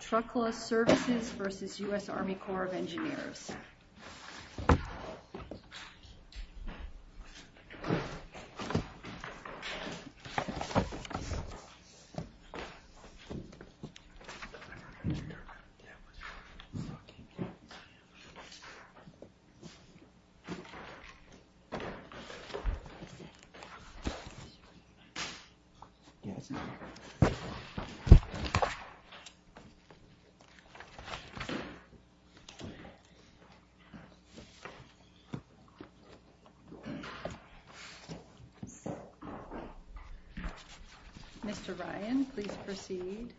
Truckla Services, Inc. v. US Army Corps of Engineers Truckla Services, Inc. v. US Army Corps of Engineers Mr. Ryan, please proceed.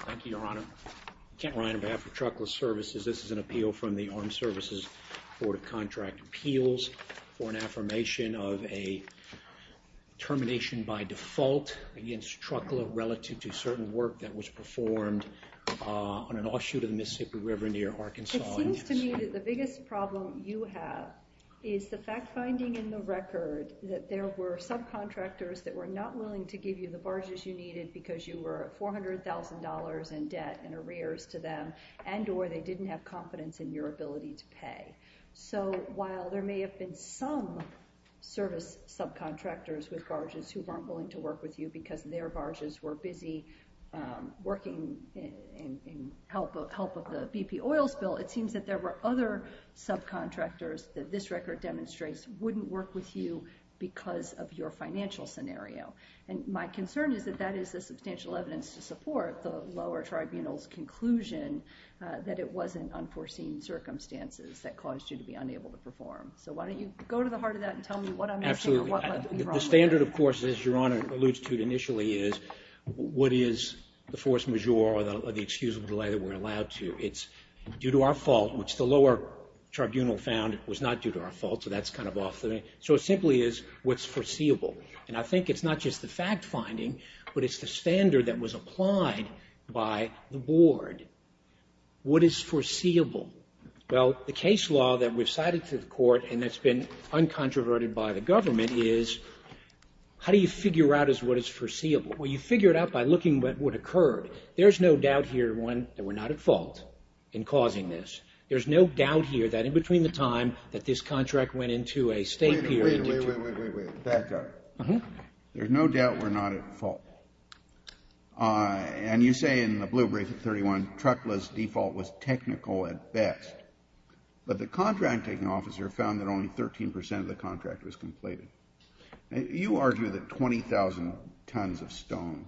Thank you, Your Honor. Kent Ryan on behalf of Truckla Services. This is an appeal from the Armed Services Board of Contract Appeals for an affirmation of a termination by default against Truckla relative to certain work that was performed on an offshoot of the Mississippi River near Arkansas. It seems to me that the biggest problem you have is the fact finding in the record that there were subcontractors that were not willing to give you the barges you needed because you were $400,000 in debt and arrears to them and or they didn't have confidence in your ability to pay. So while there may have been some service subcontractors with barges who weren't willing to work with you because their barges were busy working in help of the BP oil spill, it seems that there were other subcontractors that this record demonstrates wouldn't work with you because of your financial scenario. And my concern is that that is the substantial evidence to support the lower tribunal's conclusion that it was in unforeseen circumstances that caused you to be unable to perform. So why don't you go to the heart of that and tell me what I'm missing The standard, of course, as Your Honor alludes to initially, is what is the force majeure or the excusable delay that we're allowed to. It's due to our fault, which the lower tribunal found was not due to our fault. So that's kind of off. So it simply is what's foreseeable. And I think it's not just the fact finding, but it's the standard that was applied by the board. What is foreseeable? Well, the case law that we've cited to the court and that's been uncontroverted by the government is how do you figure out what is foreseeable? Well, you figure it out by looking at what occurred. There's no doubt here that we're not at fault in causing this. There's no doubt here that in between the time that this contract went into a state period Wait, wait, wait, wait, wait, wait, wait. Back up. There's no doubt we're not at fault. And you say in the blue brief at 31, Trukla's default was technical at best. But the contract taking officer found that only 13% of the contract was completed. You argue that 20,000 tons of stone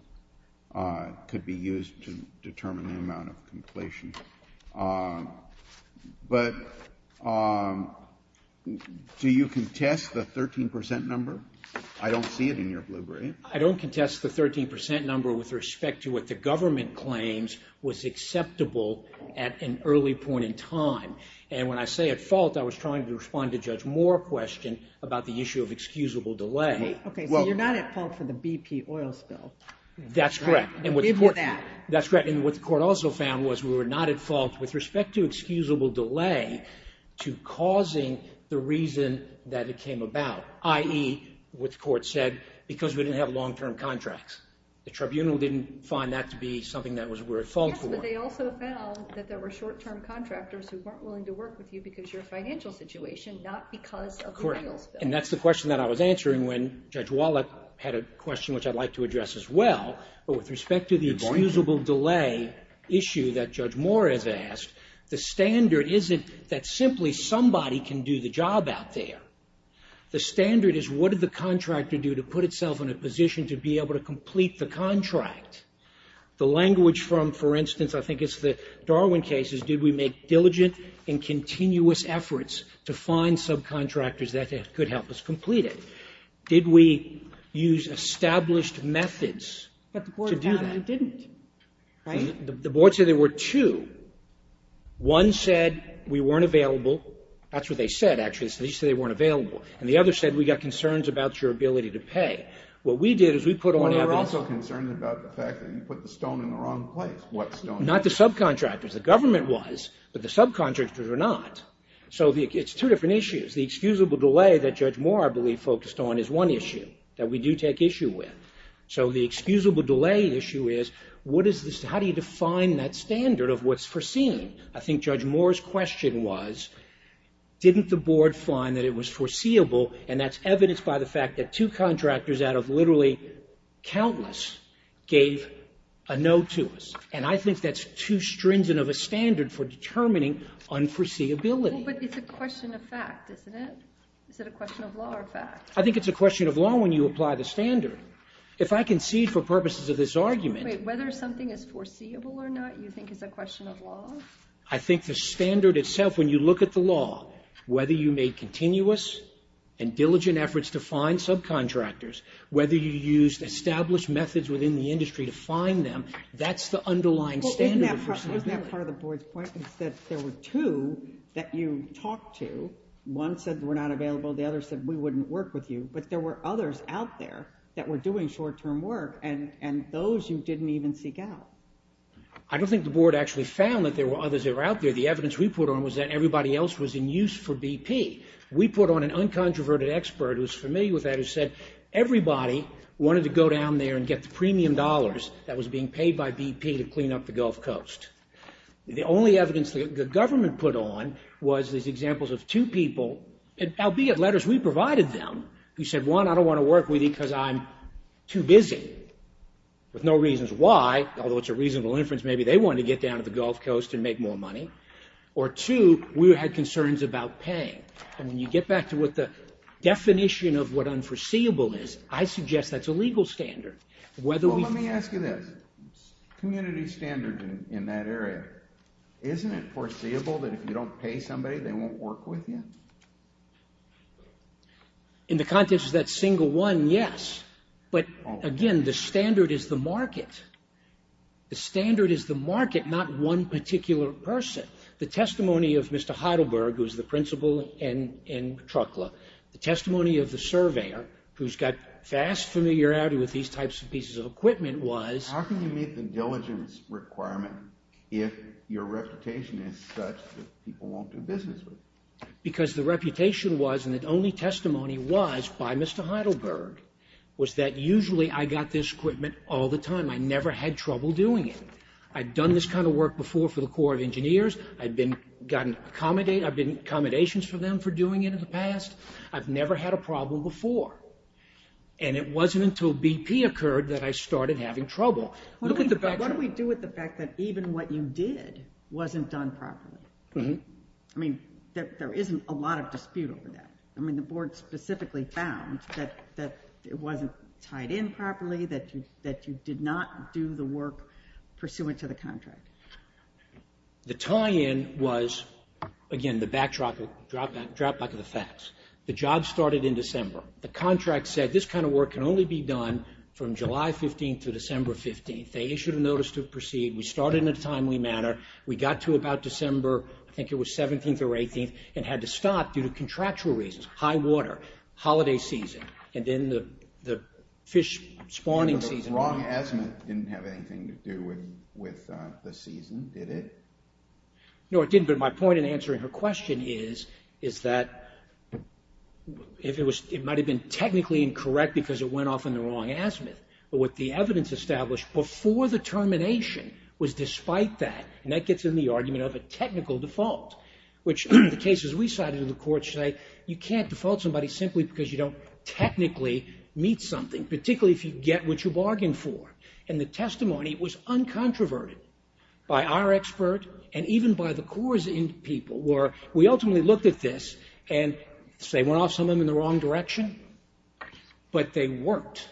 could be used to determine the amount of completion. But do you contest the 13% number? I don't see it in your blue brief. I don't contest the 13% number with respect to what the government claims was acceptable at an early point in time. And when I say at fault, I was trying to respond to Judge Moore's question about the issue of excusable delay. Okay, so you're not at fault for the BP oil spill. That's correct. Give me that. That's correct. And what the court also found was we were not at fault with respect to excusable delay to causing the reason that it came about, i.e., what the court said, because we didn't have long-term contracts. The tribunal didn't find that to be something that we were at fault for. Yes, but they also found that there were short-term contractors who weren't willing to work with you because you're a financial situation, not because of the oil spill. Correct. And that's the question that I was answering when Judge Wallach had a question which I'd like to address as well. But with respect to the excusable delay issue that Judge Moore has asked, the standard isn't that simply somebody can do the job out there. The standard is what did the contractor do to put itself in a position to be able to complete the contract? The language from, for instance, I think it's the Darwin case, is did we make diligent and continuous efforts to find subcontractors that could help us complete it? Did we use established methods to do that? But the board found we didn't, right? The board said there were two. One said we weren't available. That's what they said, actually. And the other said we got concerns about your ability to pay. What we did is we put on evidence. Well, we were also concerned about the fact that you put the stone in the wrong place. What stone? Not the subcontractors. The government was, but the subcontractors were not. So it's two different issues. The excusable delay that Judge Moore, I believe, focused on is one issue that we do take issue with. So the excusable delay issue is how do you define that standard of what's foreseen? I think Judge Moore's question was didn't the board find that it was foreseeable, and that's evidenced by the fact that two contractors out of literally countless gave a no to us. And I think that's too stringent of a standard for determining unforeseeability. But it's a question of fact, isn't it? Is it a question of law or fact? I think it's a question of law when you apply the standard. If I concede for purposes of this argument. Wait, whether something is foreseeable or not you think is a question of law? I think the standard itself, when you look at the law, whether you made continuous and diligent efforts to find subcontractors, whether you used established methods within the industry to find them, that's the underlying standard of foreseeability. Isn't that part of the board's point is that there were two that you talked to. One said we're not available. The other said we wouldn't work with you. But there were others out there that were doing short-term work, and those you didn't even seek out. I don't think the board actually found that there were others that were out there. The evidence we put on was that everybody else was in use for BP. We put on an uncontroverted expert who was familiar with that who said everybody wanted to go down there and get the premium dollars that was being paid by BP to clean up the Gulf Coast. The only evidence the government put on was these examples of two people, albeit letters we provided them, who said, one, I don't want to work with you because I'm too busy with no reasons why, although it's a reasonable inference maybe they wanted to get down to the Gulf Coast and make more money, or two, we had concerns about paying. And when you get back to what the definition of what unforeseeable is, I suggest that's a legal standard. Well, let me ask you this. Community standards in that area, isn't it foreseeable that if you don't pay somebody, they won't work with you? In the context of that single one, yes. But, again, the standard is the market. The standard is the market, not one particular person. The testimony of Mr. Heidelberg, who is the principal in Trukla, the testimony of the surveyor, who's got vast familiarity with these types of pieces of equipment, was... How can you meet the diligence requirement if your reputation is such that people won't do business with you? Because the reputation was, and the only testimony was by Mr. Heidelberg, was that usually I got this equipment all the time. I never had trouble doing it. I'd done this kind of work before for the Corps of Engineers. I've been in accommodations for them for doing it in the past. I've never had a problem before. And it wasn't until BP occurred that I started having trouble. What do we do with the fact that even what you did wasn't done properly? I mean, there isn't a lot of dispute over that. I mean, the board specifically found that it wasn't tied in properly, that you did not do the work pursuant to the contract. The tie-in was, again, the backdrop of the facts. The job started in December. The contract said this kind of work can only be done from July 15th to December 15th. They issued a notice to proceed. We started in a timely manner. We got to about December, I think it was 17th or 18th, and had to stop due to contractual reasons. High water, holiday season, and then the fish spawning season. The wrong azimuth didn't have anything to do with the season, did it? No, it didn't. But my point in answering her question is that it might have been technically incorrect because it went off in the wrong azimuth. But what the evidence established before the termination was despite that, and that gets in the argument of a technical default, which the cases we cited in the court say you can't default somebody simply because you don't technically meet something, particularly if you get what you bargained for. And the testimony was uncontroverted by our expert and even by the cores in people where we ultimately looked at this and, say, went off some of them in the wrong direction, but they worked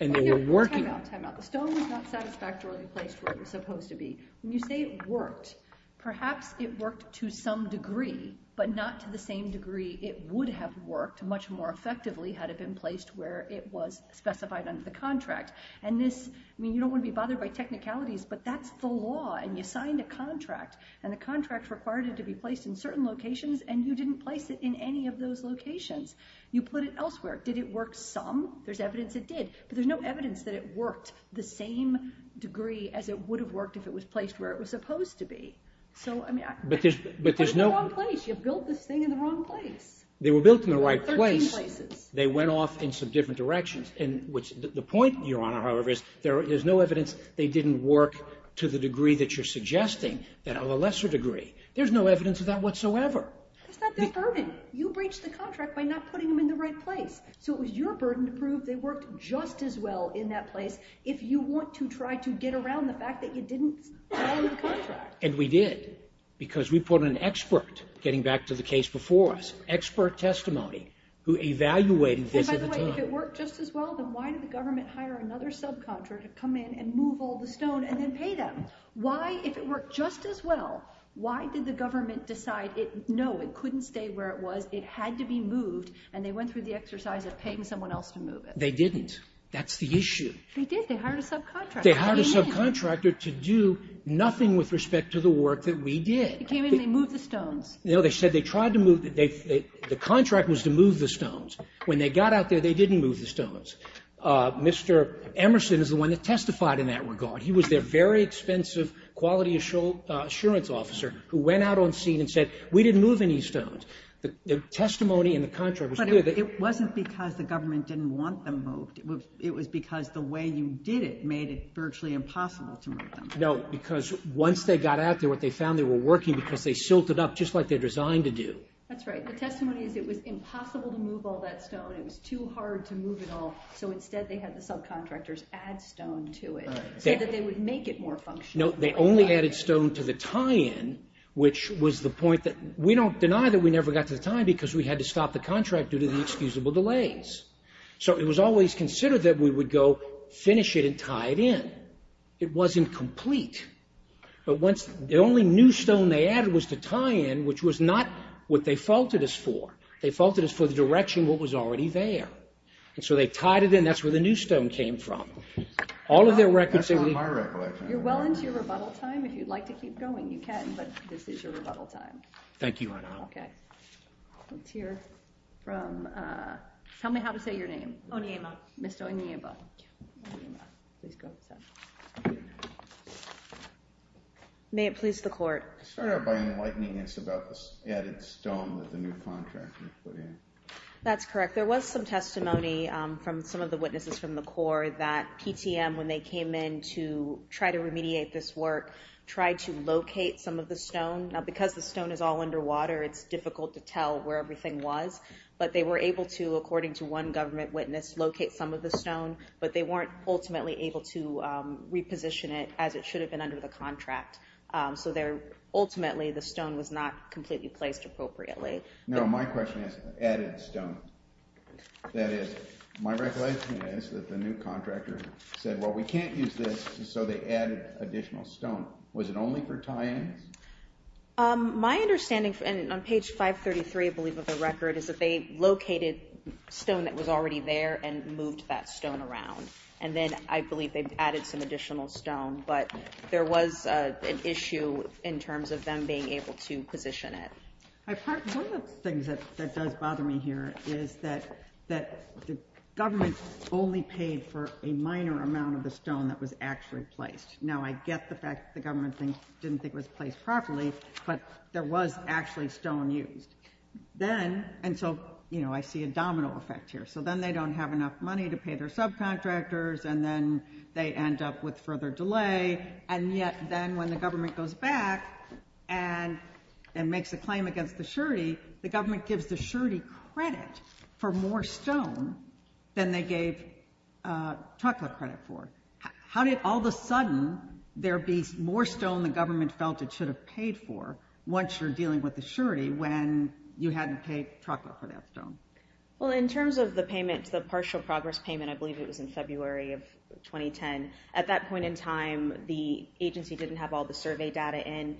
and they were working. Time out, time out. The stone was not satisfactorily placed where it was supposed to be. When you say it worked, perhaps it worked to some degree, but not to the same degree it would have worked much more effectively had it been placed where it was specified under the contract. And this, I mean, you don't want to be bothered by technicalities, but that's the law, and you signed a contract, and the contract required it to be placed in certain locations, and you didn't place it in any of those locations. You put it elsewhere. Did it work some? There's evidence it did. But there's no evidence that it worked the same degree as it would have worked if it was placed where it was supposed to be. So, I mean, I put it in the wrong place. You built this thing in the wrong place. They were built in the right place. Thirteen places. They went off in some different directions. The point, Your Honor, however, is there's no evidence they didn't work to the degree that you're suggesting, that of a lesser degree. There's no evidence of that whatsoever. It's not their burden. You breached the contract by not putting them in the right place, so it was your burden to prove they worked just as well in that place. If you want to try to get around the fact that you didn't sign the contract. And we did because we put an expert, getting back to the case before us, expert testimony who evaluated this at the time. And, by the way, if it worked just as well, then why did the government hire another subcontractor to come in and move all the stone and then pay them? Why, if it worked just as well, why did the government decide, no, it couldn't stay where it was, it had to be moved, and they went through the exercise of paying someone else to move it? They didn't. That's the issue. They did. They hired a subcontractor. They hired a subcontractor to do nothing with respect to the work that we did. They came in, they moved the stones. No. They said they tried to move the stones. The contract was to move the stones. When they got out there, they didn't move the stones. Mr. Emerson is the one that testified in that regard. He was their very expensive quality assurance officer who went out on scene and said, we didn't move any stones. The testimony in the contract was clear. But it wasn't because the government didn't want them moved. It was because the way you did it made it virtually impossible to move them. No, because once they got out there, what they found, they were working because they silted up just like they're designed to do. That's right. The testimony is it was impossible to move all that stone. It was too hard to move it all, so instead they had the subcontractors add stone to it so that they would make it more functional. No, they only added stone to the tie-in, which was the point that we don't deny that we never got to the tie-in because we had to stop the contract due to the excusable delays. So it was always considered that we would go finish it and tie it in. It wasn't complete. But once the only new stone they added was the tie-in, which was not what they faulted us for. They faulted us for the direction what was already there. And so they tied it in. That's where the new stone came from. That's on my recollection. You're well into your rebuttal time. If you'd like to keep going, you can, but this is your rebuttal time. Thank you, Your Honor. Okay. Let's hear from—tell me how to say your name. Oniema. Ms. Oniema. Oniema. Please go to the side. May it please the Court. I start out by enlightening us about the added stone that the new contractor put in. That's correct. There was some testimony from some of the witnesses from the Corps that PTM, when they came in to try to remediate this work, tried to locate some of the stone. Now, because the stone is all underwater, it's difficult to tell where everything was. But they were able to, according to one government witness, locate some of the stone, but they weren't ultimately able to reposition it as it should have been under the contract. So ultimately, the stone was not completely placed appropriately. No, my question is added stone. That is, my recollection is that the new contractor said, well, we can't use this, so they added additional stone. Was it only for tie-ins? My understanding, and on page 533, I believe, of the record, is that they located stone that was already there and moved that stone around. And then I believe they added some additional stone. But there was an issue in terms of them being able to position it. One of the things that does bother me here is that the government only paid for a minor amount of the stone that was actually placed. Now, I get the fact that the government didn't think it was placed properly, but there was actually stone used. Then, and so, you know, I see a domino effect here. So then they don't have enough money to pay their subcontractors, and then they end up with further delay. And yet then when the government goes back and makes a claim against the surety, the government gives the surety credit for more stone than they gave Tuckler credit for. How did all of a sudden there be more stone the government felt it should have paid for once you're dealing with the surety when you hadn't paid Tuckler for that stone? Well, in terms of the payment, the partial progress payment, I believe it was in February of 2010. At that point in time, the agency didn't have all the survey data in.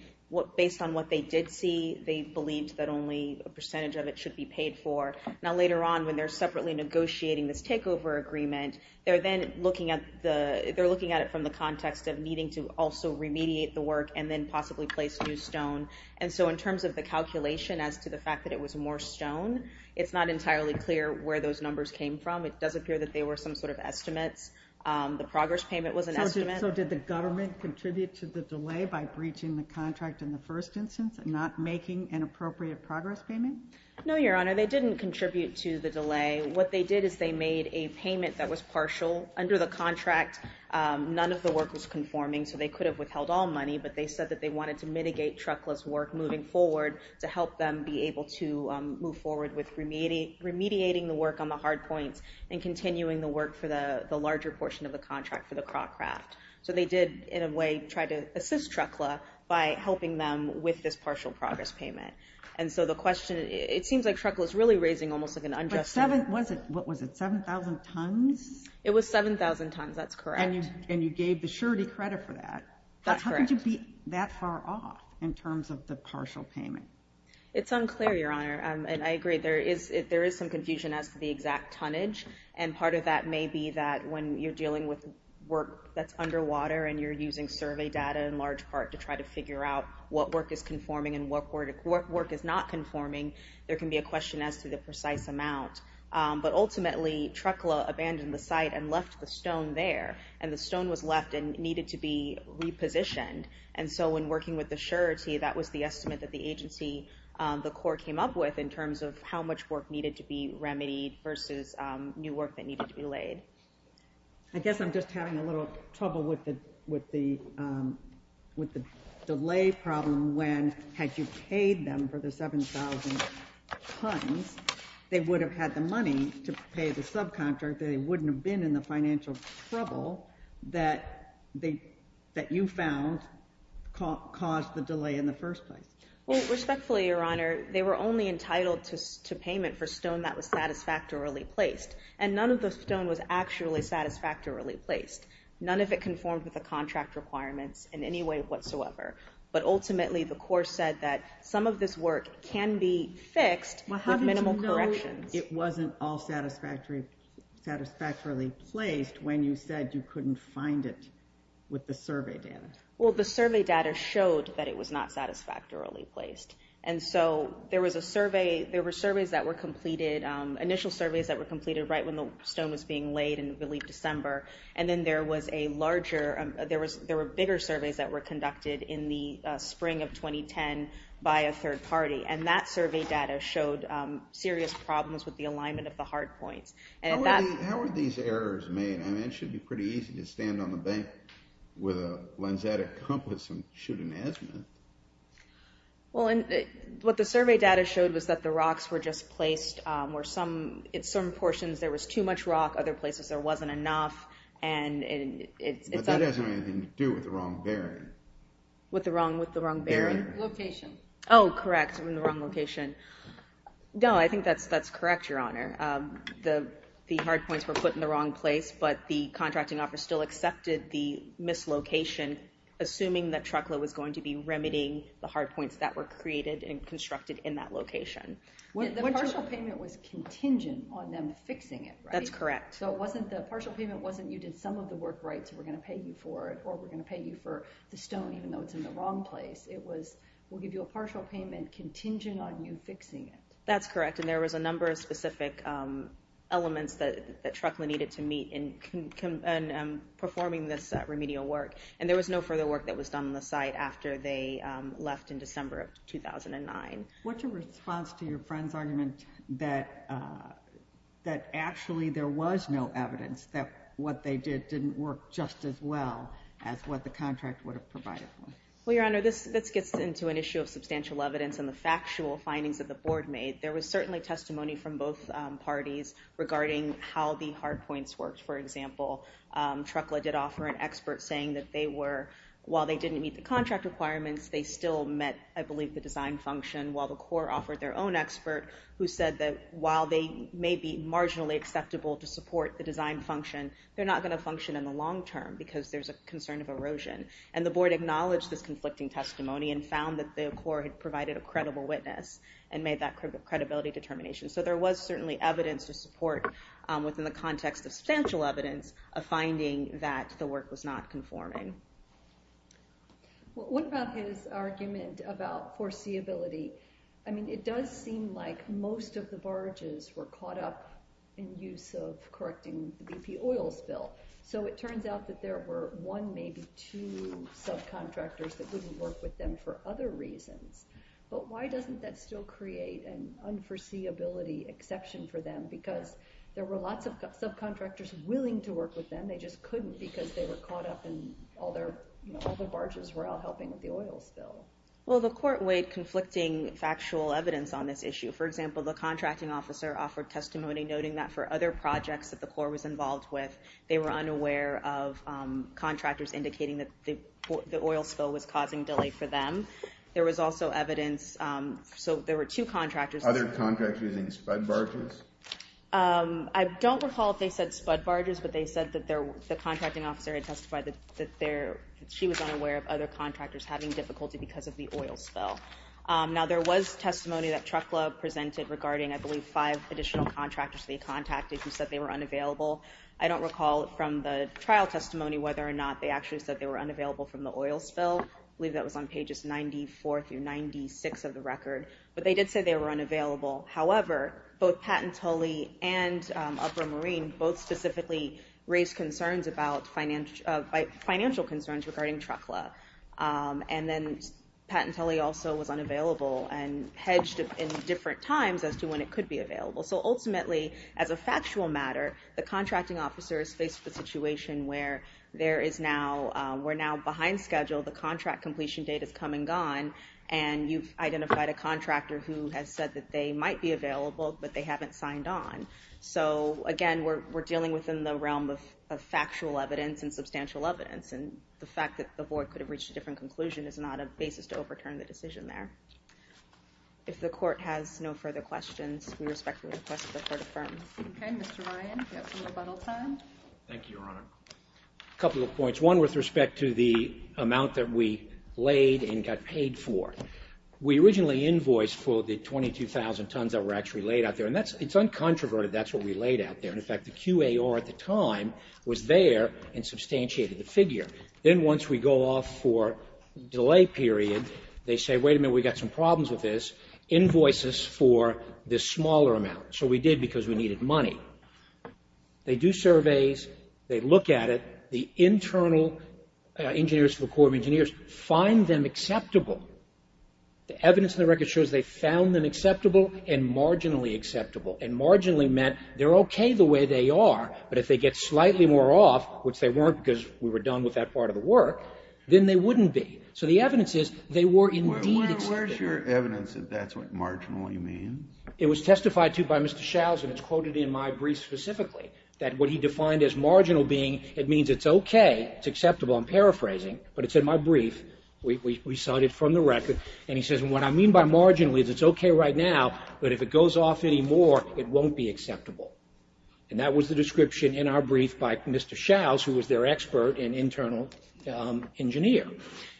Based on what they did see, they believed that only a percentage of it should be paid for. Now, later on, when they're separately negotiating this takeover agreement, they're then looking at it from the context of needing to also remediate the work and then possibly place new stone. And so in terms of the calculation as to the fact that it was more stone, it's not entirely clear where those numbers came from. It does appear that they were some sort of estimates. The progress payment was an estimate. So did the government contribute to the delay by breaching the contract in the first instance and not making an appropriate progress payment? No, Your Honor, they didn't contribute to the delay. What they did is they made a payment that was partial. Under the contract, none of the work was conforming, so they could have withheld all money, but they said that they wanted to mitigate Tuckler's work moving forward to help them be able to move forward with remediating the work on the hard points and continuing the work for the larger portion of the contract for the crock craft. So they did, in a way, try to assist Tuckler by helping them with this partial progress payment. And so the question, it seems like Tuckler's really raising almost like an unjustified question. Was it 7,000 tons? It was 7,000 tons, that's correct. And you gave the surety credit for that. That's correct. How could you be that far off in terms of the partial payment? It's unclear, Your Honor, and I agree. There is some confusion as to the exact tonnage, and part of that may be that when you're dealing with work that's underwater and you're using survey data in large part to try to figure out what work is conforming and what work is not conforming, there can be a question as to the precise amount. But ultimately, Tuckler abandoned the site and left the stone there, and the stone was left and needed to be repositioned. And so when working with the surety, that was the estimate that the agency, the Corps, came up with in terms of how much work needed to be remedied versus new work that needed to be laid. I guess I'm just having a little trouble with the delay problem when had you paid them for the 7,000 tons, they would have had the money to pay the subcontractor. They wouldn't have been in the financial trouble that you found caused the delay in the first place. Respectfully, Your Honor, they were only entitled to payment for stone that was satisfactorily placed, and none of the stone was actually satisfactorily placed. None of it conformed with the contract requirements in any way whatsoever. But ultimately, the Corps said that some of this work can be fixed with minimal corrections. Well, how did you know it wasn't all satisfactorily placed when you said you couldn't find it with the survey data? Well, the survey data showed that it was not satisfactorily placed. And so there were initial surveys that were completed right when the stone was being laid in early December, and then there were bigger surveys that were conducted in the spring of 2010 by a third party. And that survey data showed serious problems with the alignment of the hard points. How were these errors made? I mean, it should be pretty easy to stand on the bank with a lensatic compass and shoot an azimuth. Well, what the survey data showed was that the rocks were just placed, where in some portions there was too much rock, other places there wasn't enough. But that doesn't have anything to do with the wrong bearing. With the wrong bearing? Location. Oh, correct, the wrong location. No, I think that's correct, Your Honor. The hard points were put in the wrong place, but the contracting office still accepted the mislocation, assuming that Trukla was going to be remedying the hard points that were created and constructed in that location. The partial payment was contingent on them fixing it, right? That's correct. So the partial payment wasn't, you did some of the work right, so we're going to pay you for it, or we're going to pay you for the stone, even though it's in the wrong place. It was, we'll give you a partial payment contingent on you fixing it. That's correct, and there was a number of specific elements that Trukla needed to meet in performing this remedial work. And there was no further work that was done on the site after they left in December of 2009. What's your response to your friend's argument that actually there was no evidence that what they did didn't work just as well as what the contract would have provided? Well, Your Honor, this gets into an issue of substantial evidence and the factual findings that the board made. There was certainly testimony from both parties regarding how the hard points worked. For example, Trukla did offer an expert saying that they were, while they didn't meet the contract requirements, they still met, I believe, the design function, while the court offered their own expert who said that while they may be marginally acceptable to support the design function, they're not going to function in the long term because there's a concern of erosion. And the board acknowledged this conflicting testimony and found that the court had provided a credible witness and made that credibility determination. So there was certainly evidence to support within the context of substantial evidence a finding that the work was not conforming. What about his argument about foreseeability? I mean, it does seem like most of the barges were caught up in use of correcting the BP oil spill. So it turns out that there were one, maybe two subcontractors that wouldn't work with them for other reasons. But why doesn't that still create an unforeseeability exception for them? Because there were lots of subcontractors willing to work with them, they just couldn't because they were caught up in all their, all their barges were out helping with the oil spill. Well, the court weighed conflicting factual evidence on this issue. For example, the contracting officer offered testimony noting that for other projects that the Corps was involved with, they were unaware of contractors indicating that the oil spill was causing delay for them. There was also evidence, so there were two contractors. Other contractors using spud barges? I don't recall if they said spud barges, but they said that the contracting officer had testified that she was unaware of other contractors having difficulty because of the oil spill. Now, there was testimony that Truck Club presented regarding, I believe, five additional contractors they contacted who said they were unavailable. I don't recall from the trial testimony whether or not they actually said that they were unavailable from the oil spill. I believe that was on pages 94 through 96 of the record. But they did say they were unavailable. However, both Patent Tully and Upper Marine both specifically raised concerns about, financial concerns regarding Truck Club. And then Patent Tully also was unavailable and hedged in different times as to when it could be available. So ultimately, as a factual matter, the contracting officers faced the situation where we're now behind schedule. The contract completion date has come and gone, and you've identified a contractor who has said that they might be available, but they haven't signed on. So again, we're dealing within the realm of factual evidence and substantial evidence. And the fact that the board could have reached a different conclusion is not a basis to overturn the decision there. If the court has no further questions, we respectfully request that the court affirm. Okay. Mr. Ryan, do you have some rebuttal time? Thank you, Your Honor. A couple of points. One with respect to the amount that we laid and got paid for. We originally invoiced for the 22,000 tons that were actually laid out there, and it's uncontroverted that's what we laid out there. In fact, the QAR at the time was there and substantiated the figure. Then once we go off for delay period, they say, wait a minute, we've got some problems with this. Invoices for this smaller amount. So we did because we needed money. They do surveys. They look at it. The internal engineers of the Corps of Engineers find them acceptable. The evidence in the record shows they found them acceptable and marginally acceptable. And marginally meant they're okay the way they are, but if they get slightly more off, which they weren't because we were done with that part of the work, then they wouldn't be. So the evidence is they were indeed acceptable. Where's your evidence that that's what marginally means? It was testified to by Mr. Shouse, and it's quoted in my brief specifically, that what he defined as marginal being, it means it's okay, it's acceptable. I'm paraphrasing, but it's in my brief. We cite it from the record. And he says, what I mean by marginally is it's okay right now, but if it goes off anymore, it won't be acceptable. And that was the description in our brief by Mr. Shouse, who was their expert and internal engineer.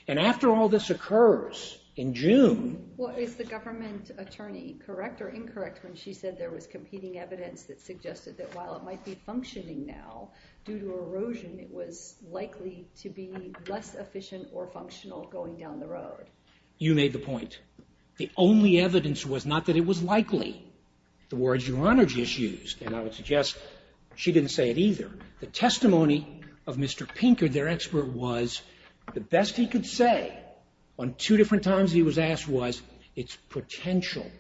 And after all this occurs in June. Well, is the government attorney correct or incorrect when she said there was competing evidence that suggested that while it might be functioning now, due to erosion it was likely to be less efficient or functional going down the road? You made the point. The only evidence was not that it was likely. The words your Honor just used, and I would suggest she didn't say it either, the testimony of Mr. Pinker, their expert, was the best he could say on two different times he was asked was, it's potential.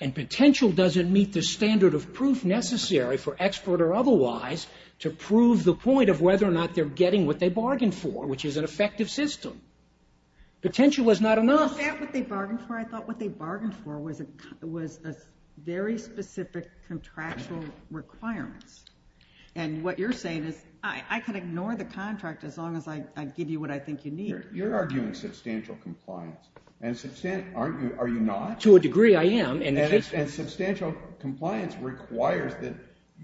And potential doesn't meet the standard of proof necessary for expert or otherwise to prove the point of whether or not they're getting what they bargained for, which is an effective system. Potential is not enough. Is that what they bargained for? I thought what they bargained for was a very specific contractual requirements. And what you're saying is I can ignore the contract as long as I give you what I think you need. You're arguing substantial compliance. Are you not? To a degree I am. And substantial compliance requires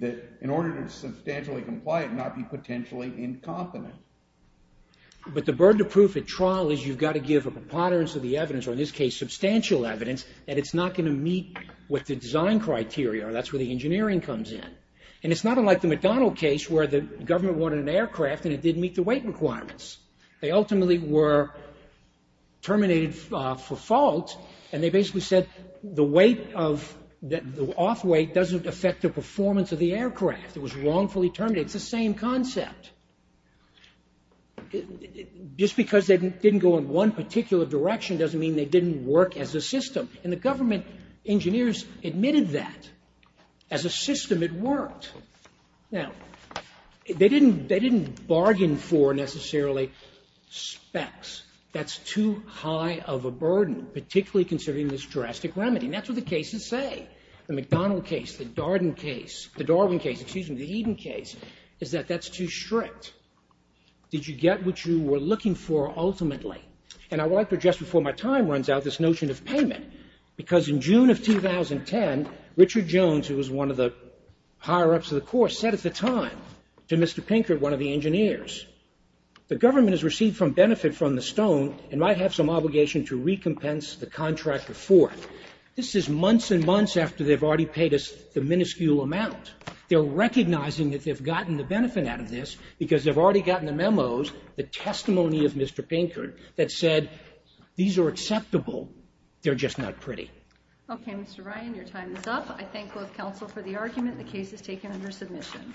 that in order to substantially comply it not be potentially incompetent. But the burden of proof at trial is you've got to give a preponderance of the evidence, or in this case substantial evidence, that it's not going to meet what the design criteria are. That's where the engineering comes in. And it's not unlike the McDonald case where the government wanted an aircraft and it didn't meet the weight requirements. They ultimately were terminated for fault, and they basically said the off weight doesn't affect the performance of the aircraft. It was wrongfully terminated. It's the same concept. Just because they didn't go in one particular direction doesn't mean they didn't work as a system. And the government engineers admitted that. As a system it worked. Now, they didn't bargain for necessarily specs. That's too high of a burden, particularly considering this drastic remedy. And that's what the cases say. The McDonald case, the Darwin case, the Eden case, is that that's too strict. Did you get what you were looking for ultimately? And I would like to address before my time runs out this notion of payment because in June of 2010, Richard Jones, who was one of the higher-ups of the Corps, said at the time to Mr. Pinkert, one of the engineers, the government has received benefit from the stone and might have some obligation to recompense the contractor forth. This is months and months after they've already paid us the minuscule amount. They're recognizing that they've gotten the benefit out of this because they've already gotten the memos, the testimony of Mr. Pinkert that said these are acceptable. They're just not pretty. Okay, Mr. Ryan, your time is up. I thank both counsel for the argument. The case is taken under submission.